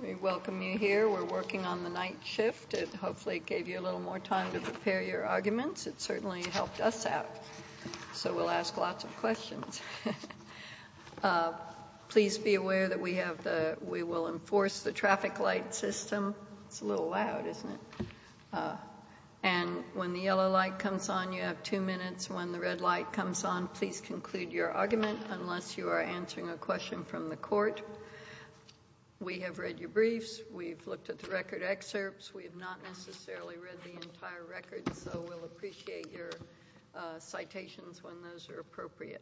We welcome you here. We're working on the night shift. It hopefully gave you a little more time to prepare your arguments. It certainly helped us out, so we'll ask lots of questions. Please be aware that we will enforce the traffic light system. It's a little loud, isn't it? And when the yellow light comes on, you have two minutes. When the red light comes on, please conclude your argument unless you are answering a question from the court. We have read your briefs. We've looked at the record excerpts. We have not necessarily read the entire record, so we'll appreciate your citations when those are appropriate.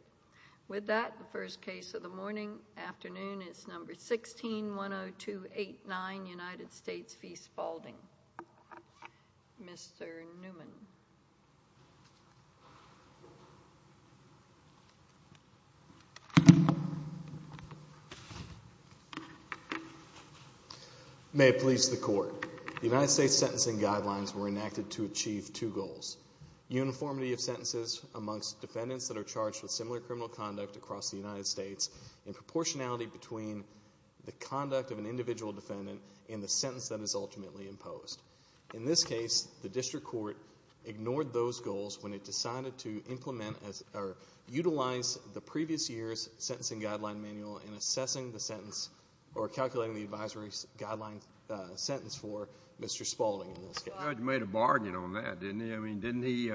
With that, the first case of the morning-afternoon is No. 16-10289, United States v. Spalding. Mr. Newman. Mr. Newman May it please the Court. The United States sentencing guidelines were enacted to achieve two goals. Uniformity of sentences amongst defendants that are charged with similar criminal conduct across the United States and proportionality between the conduct of an individual defendant and the sentence that is ultimately imposed. In this case, the district court ignored those goals when it decided to utilize the previous year's sentencing guideline manual in assessing the sentence or calculating the advisory guideline sentence for Mr. Spalding. The judge made a bargain on that, didn't he? I mean, didn't he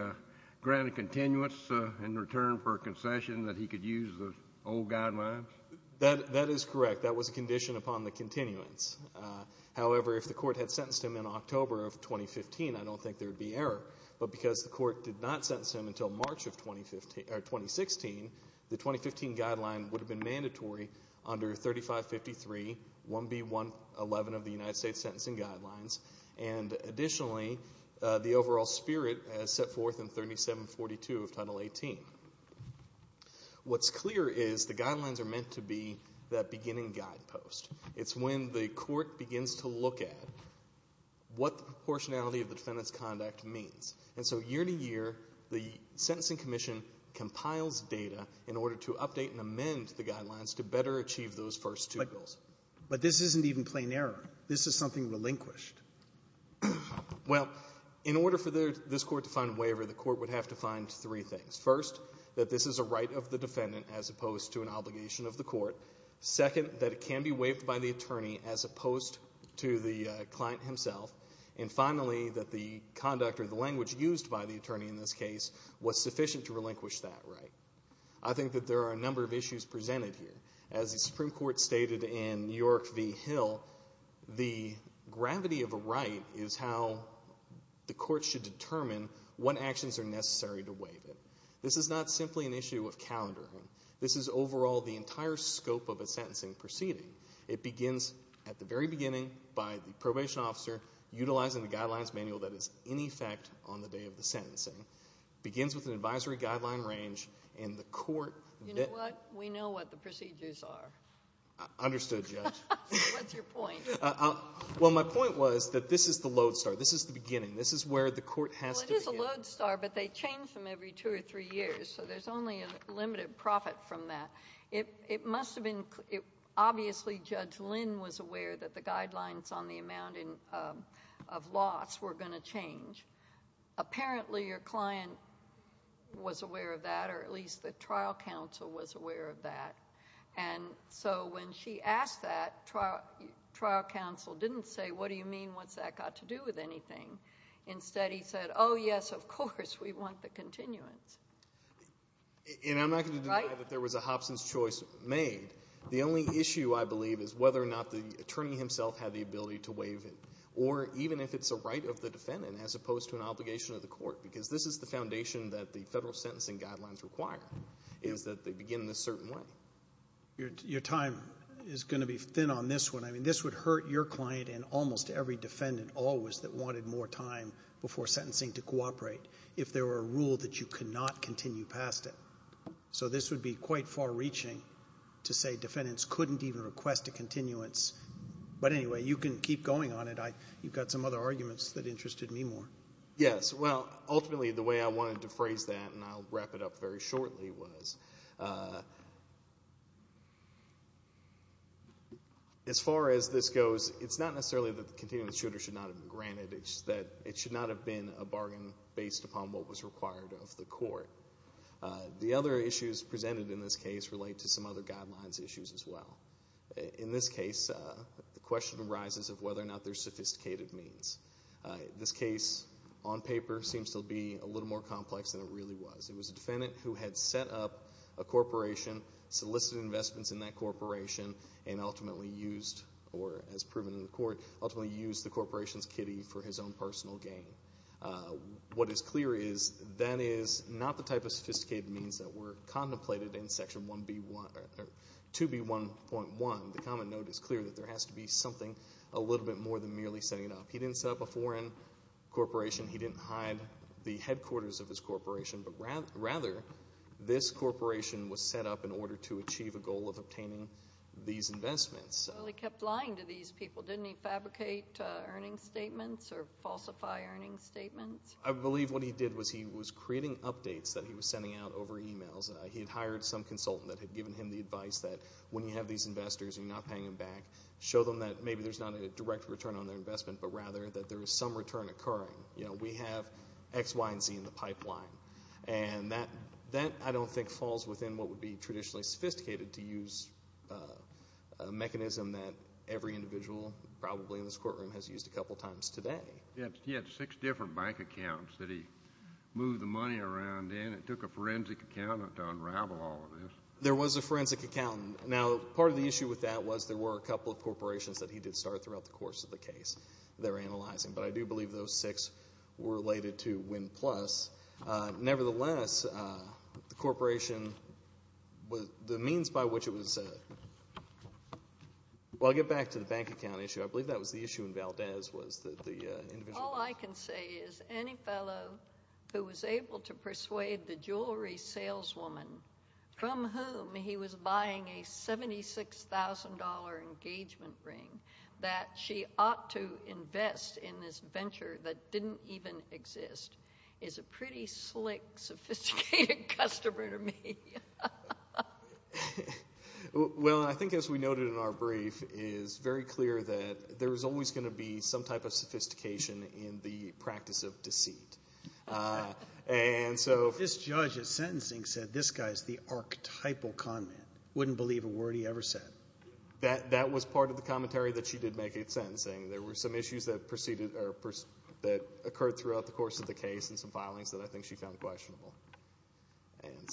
grant a continuance in return for a concession that he could use the old guidelines? That is correct. That was a condition upon the continuance. However, if the court had sentenced him in October of 2015, I don't think there would be error. But because the court did not sentence him until March of 2016, the 2015 guideline would have been mandatory under 3553, 1B111 of the United States sentencing guidelines. And additionally, the overall spirit as set forth in 3742 of Title 18. What's clear is the guidelines are meant to be that beginning guidepost. It's when the court begins to look at what the proportionality of the defendant's conduct means. And so year to year, the Sentencing Commission compiles data in order to update and amend the guidelines to better achieve those first two goals. But this isn't even plain error. This is something relinquished. Well, in order for this court to find a waiver, the court would have to find three things. First, that this is a right of the defendant as opposed to an obligation of the court. Second, that it can be waived by the attorney as opposed to the client himself. And finally, that the conduct or the language used by the attorney in this case was sufficient to relinquish that right. I think that there are a number of issues presented here. As the Supreme Court stated in New York v. Hill, the gravity of a right is how the court should determine what actions are necessary to waive it. This is not simply an issue of calendaring. This is overall the entire scope of a sentencing proceeding. It begins at the very beginning by the probation officer utilizing the guidelines manual that is in effect on the day of the sentencing. It begins with an advisory guideline range, and the court- You know what? We know what the procedures are. Understood, Judge. What's your point? Well, my point was that this is the lodestar. This is the beginning. This is where the court has to begin. Well, it is a lodestar, but they change them every two or three years. So there's only a limited profit from that. It must have been – obviously, Judge Lynn was aware that the guidelines on the amount of loss were going to change. Apparently, your client was aware of that, or at least the trial counsel was aware of that. And so when she asked that, trial counsel didn't say, what do you mean? What's that got to do with anything? Instead, he said, oh, yes, of course, we want the continuance. And I'm not going to deny that there was a Hobson's choice made. The only issue, I believe, is whether or not the attorney himself had the ability to waive it, or even if it's a right of the defendant as opposed to an obligation of the court, because this is the foundation that the federal sentencing guidelines require, is that they begin in a certain way. Your time is going to be thin on this one. I mean this would hurt your client and almost every defendant always that wanted more time before sentencing to cooperate if there were a rule that you could not continue past it. So this would be quite far-reaching to say defendants couldn't even request a continuance. But anyway, you can keep going on it. You've got some other arguments that interested me more. Yes. Well, ultimately the way I wanted to phrase that, and I'll wrap it up very shortly, was as far as this goes, it's not necessarily that the continuance shooter should not have been granted. It's that it should not have been a bargain based upon what was required of the court. The other issues presented in this case relate to some other guidelines issues as well. In this case, the question arises of whether or not there's sophisticated means. This case on paper seems to be a little more complex than it really was. It was a defendant who had set up a corporation, solicited investments in that corporation, and ultimately used, or as proven in the court, ultimately used the corporation's kitty for his own personal gain. What is clear is that is not the type of sophisticated means that were contemplated in Section 2B1.1. The common note is clear that there has to be something a little bit more than merely setting it up. He didn't set up a foreign corporation. He didn't hide the headquarters of his corporation, but rather this corporation was set up in order to achieve a goal of obtaining these investments. Well, he kept lying to these people. Didn't he fabricate earnings statements or falsify earnings statements? I believe what he did was he was creating updates that he was sending out over e-mails. He had hired some consultant that had given him the advice that when you have these investors and you're not paying them back, show them that maybe there's not a direct return on their investment, but rather that there is some return occurring. We have X, Y, and Z in the pipeline. That, I don't think, falls within what would be traditionally sophisticated to use a mechanism that every individual probably in this courtroom has used a couple times today. He had six different bank accounts that he moved the money around in. It took a forensic accountant to unravel all of this. There was a forensic accountant. Now, part of the issue with that was there were a couple of corporations that he did start throughout the course of the case they were analyzing, but I do believe those six were related to Wynn Plus. Nevertheless, the corporation, the means by which it was, well, I'll get back to the bank account issue. I believe that was the issue in Valdez was that the individual. All I can say is any fellow who was able to persuade the jewelry saleswoman from whom he was buying a $76,000 engagement ring that she ought to invest in this venture that didn't even exist is a pretty slick, sophisticated customer to me. Well, I think as we noted in our brief, it is very clear that there is always going to be some type of sophistication in the practice of deceit. This judge at sentencing said, this guy is the archetypal con man, wouldn't believe a word he ever said. That was part of the commentary that she did make at sentencing. There were some issues that occurred throughout the course of the case and some filings that I think she found questionable.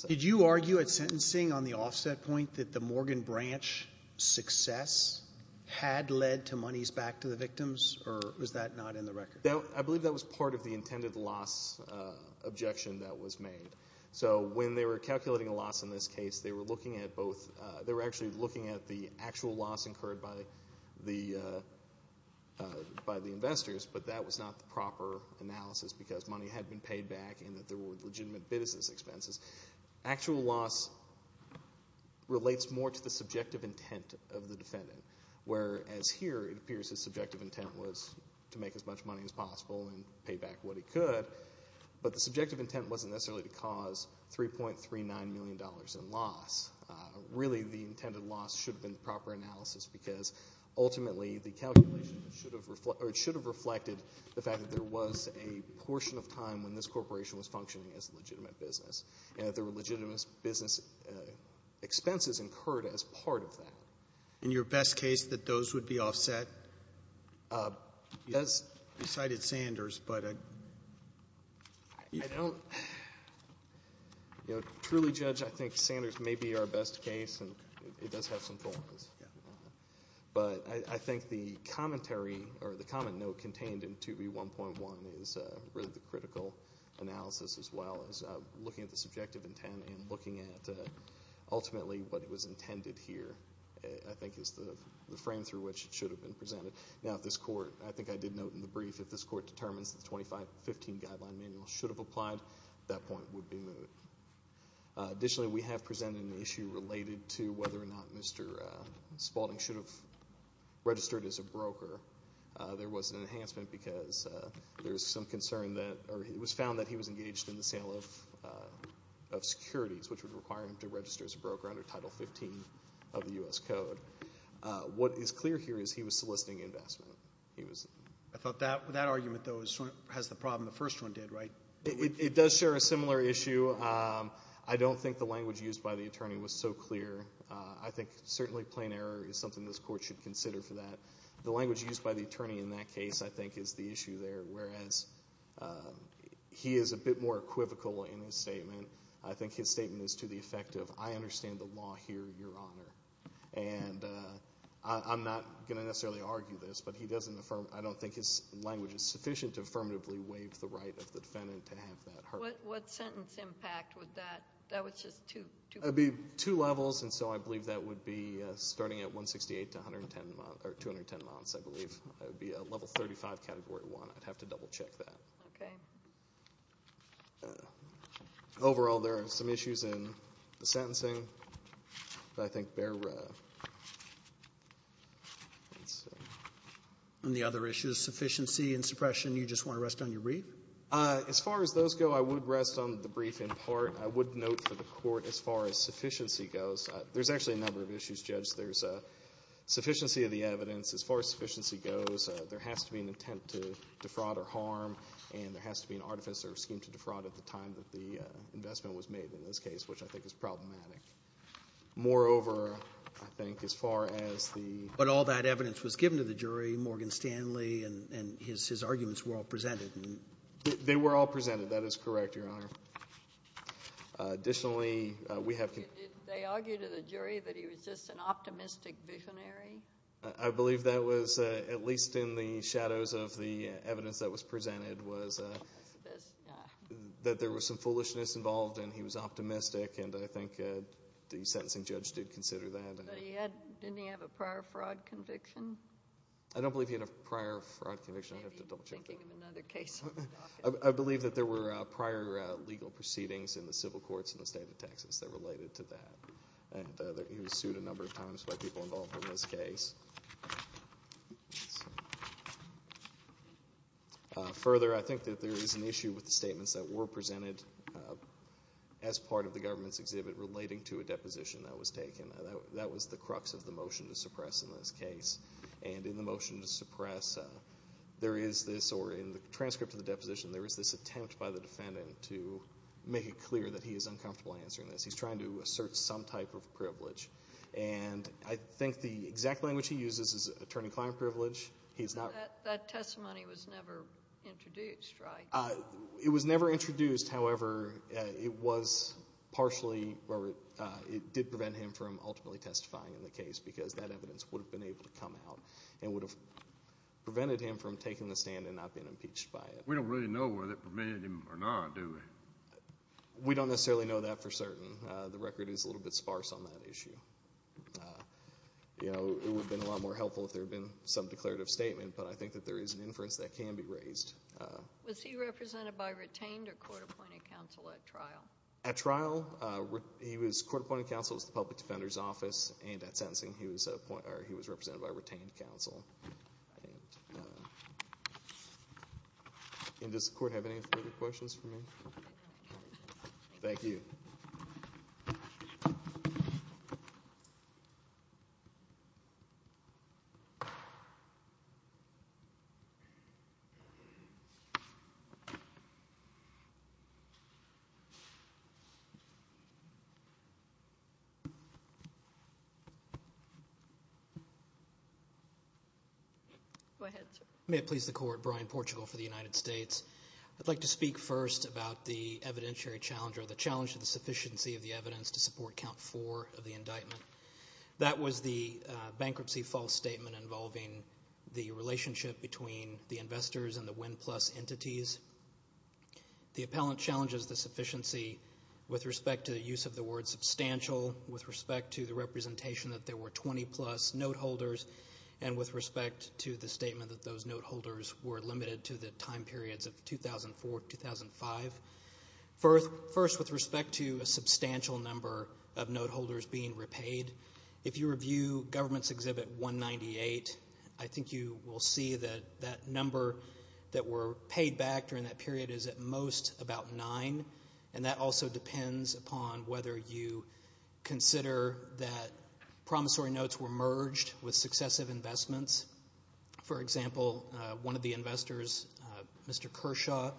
Did you argue at sentencing on the offset point that the Morgan Branch success had led to monies back to the victims or was that not in the record? I believe that was part of the intended loss objection that was made. So when they were calculating a loss in this case, they were actually looking at the actual loss incurred by the investors, but that was not the proper analysis because money had been paid back and that there were legitimate business expenses. Actual loss relates more to the subjective intent of the defendant, whereas here it appears his subjective intent was to make as much money as possible and pay back what he could, but the subjective intent wasn't necessarily to cause $3.39 million in loss. Really, the intended loss should have been the proper analysis because ultimately the calculation should have reflected the fact that there was a portion of time when this corporation was functioning as a legitimate business and that there were legitimate business expenses incurred as part of that. In your best case, that those would be offset? You cited Sanders, but I don't truly judge. I think Sanders may be our best case, and it does have some flaws. But I think the commentary or the comment note contained in 2B1.1 is really the critical analysis as well as looking at the subjective intent and looking at ultimately what was intended here, I think, is the frame through which it should have been presented. Now, if this Court, I think I did note in the brief, if this Court determines that the 2015 Guideline Manual should have applied, that point would be moved. Additionally, we have presented an issue related to whether or not Mr. Spalding should have registered as a broker. There was an enhancement because there was some concern that, or it was found that he was engaged in the sale of securities, which would require him to register as a broker under Title 15 of the U.S. Code. What is clear here is he was soliciting investment. I thought that argument, though, has the problem the first one did, right? It does share a similar issue. I don't think the language used by the attorney was so clear. I think certainly plain error is something this Court should consider for that. The language used by the attorney in that case, I think, is the issue there, whereas he is a bit more equivocal in his statement. I think his statement is to the effect of, I understand the law here, Your Honor. And I'm not going to necessarily argue this, but I don't think his language is sufficient to affirmatively waive the right of the defendant to have that heard. What sentence impact would that? That was just two. It would be two levels, and so I believe that would be starting at 168 to 210 months, I believe. It would be a Level 35, Category 1. I'd have to double-check that. Okay. Overall, there are some issues in the sentencing, but I think they're the same. On the other issues, sufficiency and suppression, you just want to rest on your brief? As far as those go, I would rest on the brief in part. I would note for the Court, as far as sufficiency goes, there's actually a number of issues, Judge. There's sufficiency of the evidence. As far as sufficiency goes, there has to be an intent to defraud or harm, and there has to be an artifice or scheme to defraud at the time that the investment was made in this case, which I think is problematic. Moreover, I think as far as the— But all that evidence was given to the jury. Morgan Stanley and his arguments were all presented. They were all presented. That is correct, Your Honor. Additionally, we have— Did they argue to the jury that he was just an optimistic visionary? I believe that was, at least in the shadows of the evidence that was presented, was that there was some foolishness involved and he was optimistic, and I think the sentencing judge did consider that. But didn't he have a prior fraud conviction? I don't believe he had a prior fraud conviction. I'd have to double-check that. Maybe you're thinking of another case. I believe that there were prior legal proceedings in the civil courts in the state of Texas that related to that. And he was sued a number of times by people involved in this case. Further, I think that there is an issue with the statements that were presented as part of the government's exhibit relating to a deposition that was taken. That was the crux of the motion to suppress in this case. And in the motion to suppress, there is this— or in the transcript of the deposition, there is this attempt by the defendant to make it clear that he is uncomfortable answering this. He's trying to assert some type of privilege. And I think the exact language he uses is attorney-client privilege. That testimony was never introduced, right? It was never introduced. However, it did prevent him from ultimately testifying in the case because that evidence would have been able to come out and would have prevented him from taking the stand and not being impeached by it. We don't really know whether it prevented him or not, do we? We don't necessarily know that for certain. The record is a little bit sparse on that issue. It would have been a lot more helpful if there had been some declarative statement, but I think that there is an inference that can be raised. Was he represented by retained or court-appointed counsel at trial? At trial, he was court-appointed counsel. It was the public defender's office. And at sentencing, he was represented by retained counsel. And does the Court have any further questions for me? Thank you. Go ahead, sir. May it please the Court. Brian Portugal for the United States. I'd like to speak first about the evidentiary challenge or the challenge to the sufficiency of the evidence to support Count 4 of the indictment. That was the bankruptcy false statement involving the relationship between the investors and the Win Plus entities. The appellant challenges the sufficiency with respect to the use of the word substantial, with respect to the representation that there were 20-plus note holders, and with respect to the statement that those note holders were limited to the time periods of 2004-2005. First, with respect to a substantial number of note holders being repaid, if you review Government's Exhibit 198, I think you will see that that number that were paid back during that period is at most about nine, and that also depends upon whether you consider that promissory notes were merged with successive investments. For example, one of the investors, Mr. Kershaw,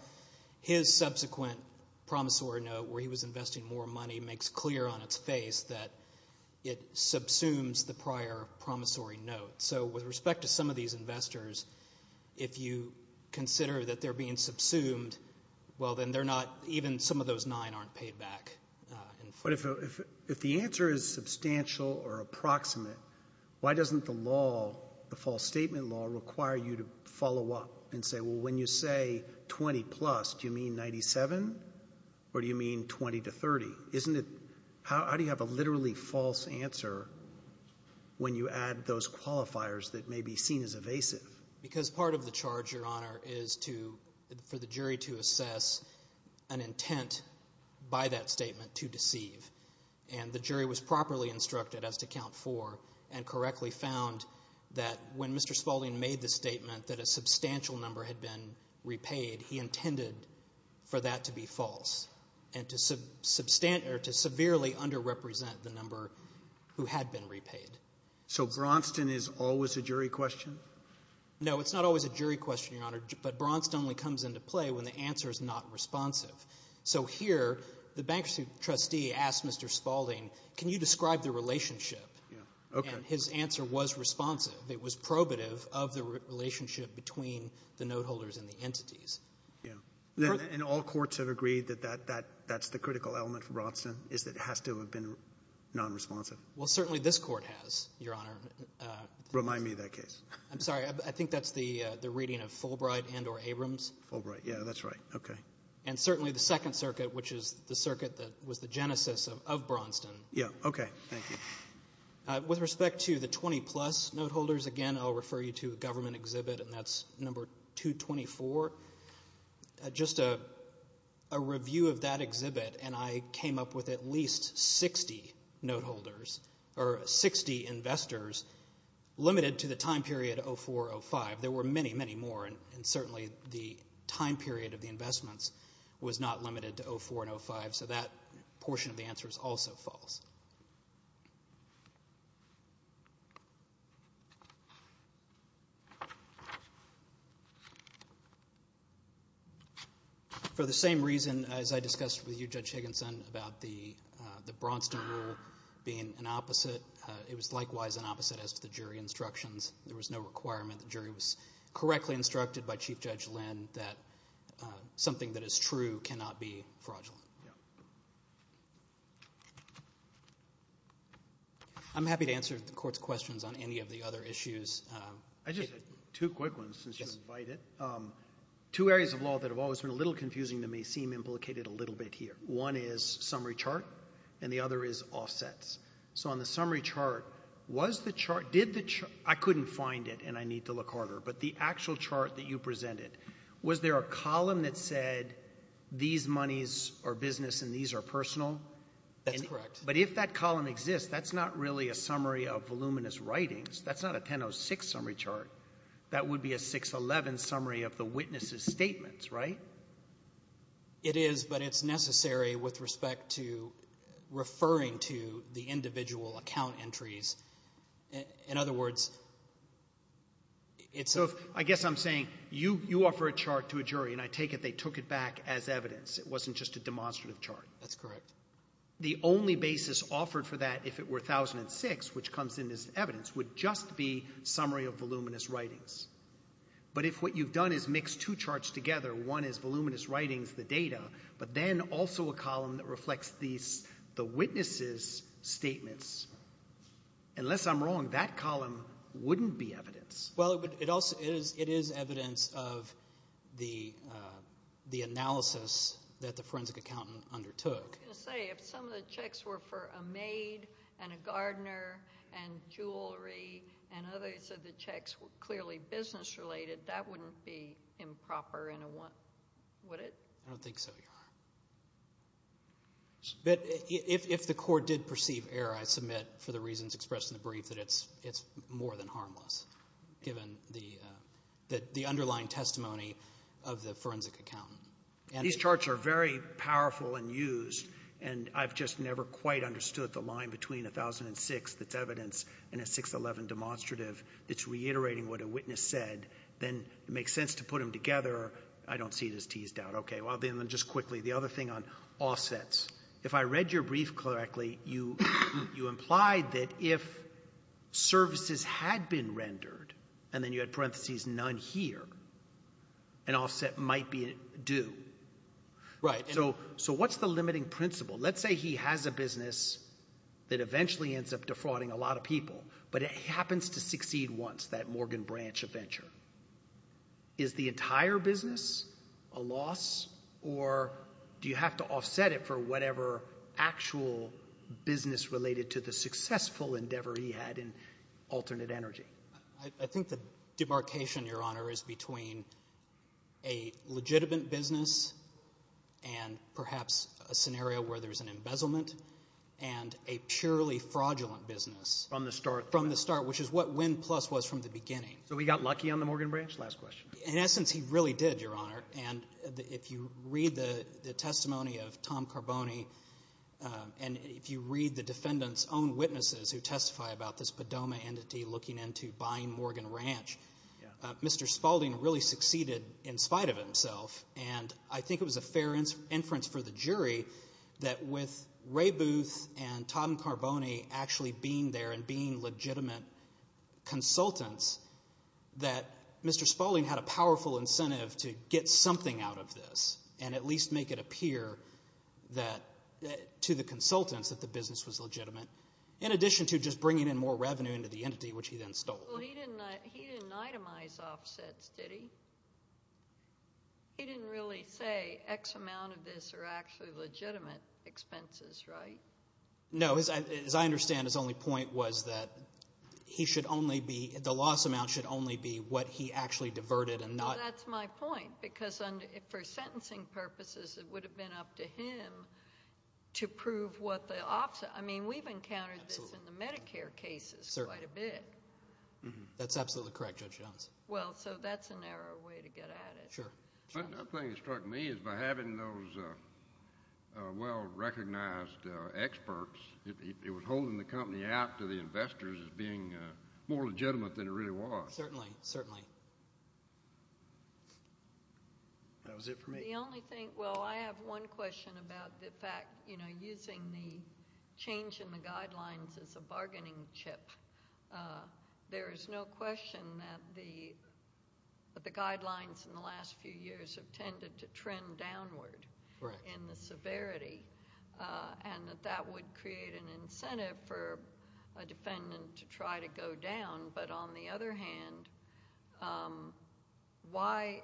his subsequent promissory note where he was investing more money makes clear on its face that it subsumes the prior promissory note. So with respect to some of these investors, if you consider that they're being subsumed, well, then even some of those nine aren't paid back. But if the answer is substantial or approximate, why doesn't the law, the false statement law, require you to follow up and say, well, when you say 20-plus, do you mean 97 or do you mean 20 to 30? How do you have a literally false answer when you add those qualifiers that may be seen as evasive? Because part of the charge, Your Honor, is for the jury to assess an intent by that statement to deceive, and the jury was properly instructed as to count four and correctly found that when Mr. Spaulding made the statement that a substantial number had been repaid, he intended for that to be false and to severely underrepresent the number who had been repaid. So Braunston is always a jury question? No, it's not always a jury question, Your Honor, but Braunston only comes into play when the answer is not responsive. So here the bankruptcy trustee asked Mr. Spaulding, can you describe the relationship? And his answer was responsive. It was probative of the relationship between the note holders and the entities. And all courts have agreed that that's the critical element for Braunston, is that it has to have been nonresponsive? Well, certainly this court has, Your Honor. Remind me of that case. I'm sorry. I think that's the reading of Fulbright and or Abrams. Fulbright, yeah, that's right. Okay. And certainly the Second Circuit, which is the circuit that was the genesis of Braunston. Yeah, okay. Thank you. With respect to the 20-plus note holders, again, I'll refer you to a government exhibit, and that's number 224. Just a review of that exhibit, and I came up with at least 60 note holders, or 60 investors limited to the time period of 2004-2005. There were many, many more, and certainly the time period of the investments was not limited to 2004-2005. So that portion of the answer is also false. For the same reason as I discussed with you, Judge Higginson, about the Braunston rule being an opposite, it was likewise an opposite as to the jury instructions. There was no requirement the jury was correctly instructed by Chief Judge Lynn that something that is true cannot be fraudulent. I'm happy to answer the court's questions on any of the other issues. I just have two quick ones since you invited. Two areas of law that have always been a little confusing that may seem implicated a little bit here. One is summary chart, and the other is offsets. So on the summary chart, was the chart, did the chart, I couldn't find it, and I need to look harder, but the actual chart that you presented, was there a column that said these monies are business and these are personal? That's correct. But if that column exists, that's not really a summary of voluminous writings. That's not a 1006 summary chart. That would be a 611 summary of the witnesses' statements, right? It is, but it's necessary with respect to referring to the individual account entries. In other words, it's a – So I guess I'm saying you offer a chart to a jury, and I take it they took it back as evidence. It wasn't just a demonstrative chart. That's correct. The only basis offered for that, if it were 1006, which comes in as evidence, would just be summary of voluminous writings. But if what you've done is mix two charts together, one is voluminous writings, the data, but then also a column that reflects the witnesses' statements, unless I'm wrong, that column wouldn't be evidence. Well, it is evidence of the analysis that the forensic accountant undertook. I was going to say, if some of the checks were for a maid and a gardener and jewelry and others of the checks were clearly business-related, that wouldn't be improper, would it? But if the court did perceive error, I submit, for the reasons expressed in the brief, that it's more than harmless, given the underlying testimony of the forensic accountant. These charts are very powerful and used, and I've just never quite understood the line between 1006 that's evidence and a 611 demonstrative that's reiterating what a witness said. Then it makes sense to put them together. I don't see it as teased out. Just quickly, the other thing on offsets. If I read your brief correctly, you implied that if services had been rendered, and then you had parentheses none here, an offset might be due. So what's the limiting principle? Let's say he has a business that eventually ends up defrauding a lot of people, but it happens to succeed once, that Morgan Branch adventure. Is the entire business a loss, or do you have to offset it for whatever actual business related to the successful endeavor he had in alternate energy? I think the demarcation, Your Honor, is between a legitimate business and perhaps a scenario where there's an embezzlement, and a purely fraudulent business. From the start. From the start, which is what Win Plus was from the beginning. So he got lucky on the Morgan Branch? Last question. In essence, he really did, Your Honor. And if you read the testimony of Tom Carboni, and if you read the defendant's own witnesses who testify about this Padoma entity looking into buying Morgan Ranch, Mr. Spalding really succeeded in spite of himself. And I think it was a fair inference for the jury that with Ray Booth and Tom Carboni actually being there and being legitimate consultants, that Mr. Spalding had a powerful incentive to get something out of this and at least make it appear to the consultants that the business was legitimate in addition to just bringing in more revenue into the entity, which he then stole. He didn't itemize offsets, did he? He didn't really say X amount of this are actually legitimate expenses, right? No. As I understand, his only point was that he should only be, the loss amount should only be what he actually diverted and not. That's my point because for sentencing purposes, it would have been up to him to prove what the offset. I mean, we've encountered this in the Medicare cases quite a bit. That's absolutely correct, Judge Jones. Well, so that's a narrow way to get at it. Sure. The other thing that struck me is by having those well-recognized experts, it was holding the company out to the investors as being more legitimate than it really was. Certainly, certainly. That was it for me. The only thing, well, I have one question about the fact, you know, using the change in the guidelines as a bargaining chip. There is no question that the guidelines in the last few years have tended to trend downward in the severity and that that would create an incentive for a defendant to try to go down. But on the other hand, why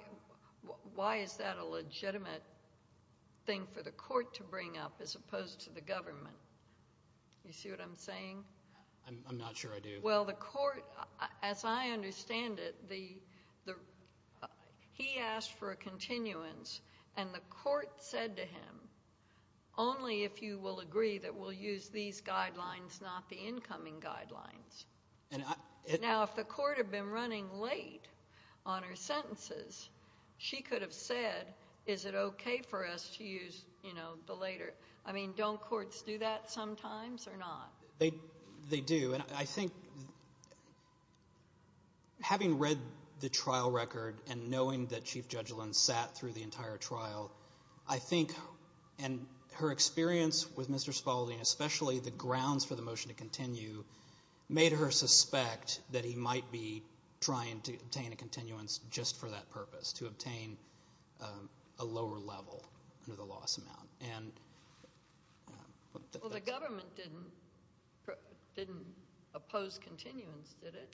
is that a legitimate thing for the court to bring up as opposed to the government? You see what I'm saying? I'm not sure I do. Well, the court, as I understand it, he asked for a continuance, and the court said to him, only if you will agree that we'll use these guidelines, not the incoming guidelines. Now, if the court had been running late on her sentences, she could have said, is it okay for us to use the later? I mean, don't courts do that sometimes or not? They do, and I think having read the trial record and knowing that Chief Judge Lynn sat through the entire trial, I think, and her experience with Mr. Spaulding, especially the grounds for the motion to continue, made her suspect that he might be trying to obtain a continuance just for that purpose, to obtain a lower level under the loss amount. Well, the government didn't oppose continuance, did it?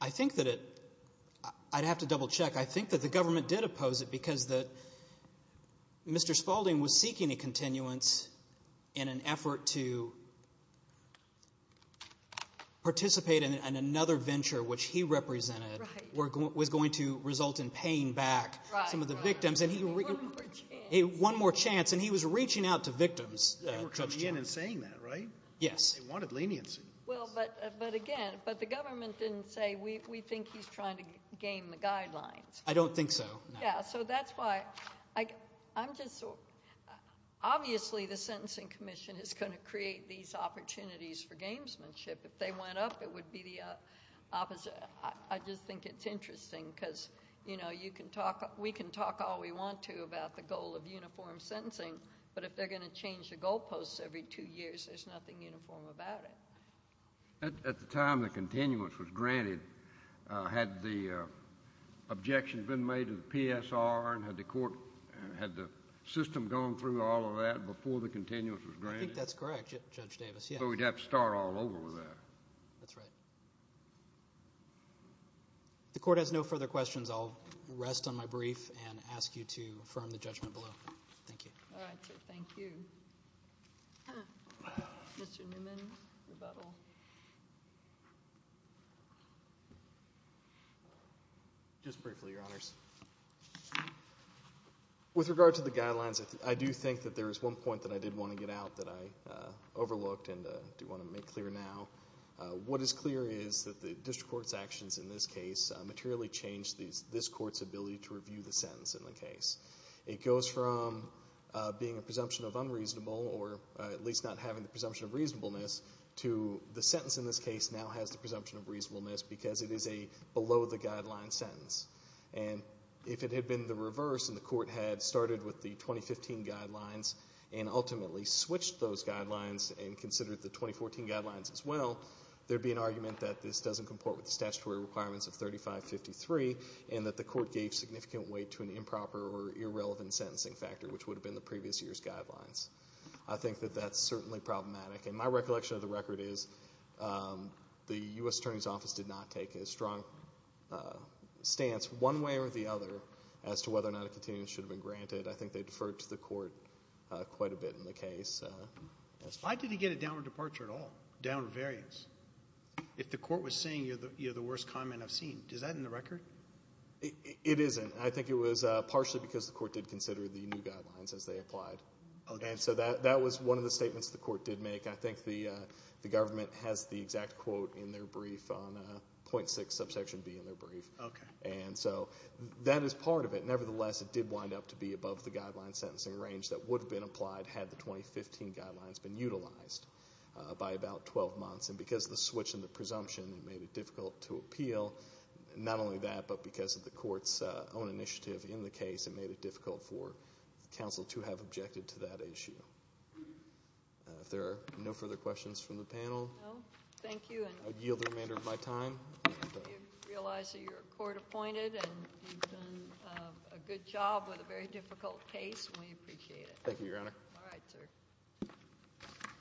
I think that it—I'd have to double check. I think that the government did oppose it because Mr. Spaulding was seeking a continuance in an effort to participate in another venture which he represented was going to result in paying back some of the victims. One more chance. One more chance, and he was reaching out to victims. They were coming in and saying that, right? Yes. They wanted leniency. Well, but again, but the government didn't say, we think he's trying to game the guidelines. I don't think so, no. Yeah, so that's why I'm just— obviously the Sentencing Commission is going to create these opportunities for gamesmanship. If they went up, it would be the opposite. I just think it's interesting because, you know, we can talk all we want to about the goal of uniform sentencing, but if they're going to change the goalposts every two years, there's nothing uniform about it. At the time the continuance was granted, had the objections been made to the PSR and had the court— had the system gone through all of that before the continuance was granted? I think that's correct, Judge Davis. So we'd have to start all over with that. That's right. If the court has no further questions, I'll rest on my brief and ask you to affirm the judgment below. Thank you. All right, sir. Thank you. Mr. Newman, rebuttal. Just briefly, Your Honors. With regard to the guidelines, I do think that there is one point that I did want to get out that I overlooked and do want to make clear now. What is clear is that the district court's actions in this case materially changed this court's ability to review the sentence in the case. It goes from being a presumption of unreasonable or at least not having the presumption of reasonableness to the sentence in this case now has the presumption of reasonableness because it is a below-the-guideline sentence. And if it had been the reverse and the court had started with the 2015 guidelines and ultimately switched those guidelines and considered the 2014 guidelines as well, there would be an argument that this doesn't comport with the statutory requirements of 3553 and that the court gave significant weight to an improper or irrelevant sentencing factor, which would have been the previous year's guidelines. I think that that's certainly problematic. And my recollection of the record is the U.S. Attorney's Office did not take a strong stance one way or the other as to whether or not a continuity should have been granted. I think they deferred to the court quite a bit in the case. Why did he get a downward departure at all, downward variance, if the court was saying you're the worst comment I've seen? Is that in the record? It isn't. I think it was partially because the court did consider the new guidelines as they applied. And so that was one of the statements the court did make. I think the government has the exact quote in their brief on 0.6 subsection B in their brief. And so that is part of it. Nevertheless, it did wind up to be above the guideline sentencing range that would have been applied had the 2015 guidelines been utilized by about 12 months. And because of the switch in the presumption, it made it difficult to appeal. Not only that, but because of the court's own initiative in the case, it made it difficult for counsel to have objected to that issue. If there are no further questions from the panel, I yield the remainder of my time. Do you realize that you're court appointed and you've done a good job with a very difficult case? We appreciate it. Thank you, Your Honor. All right, sir.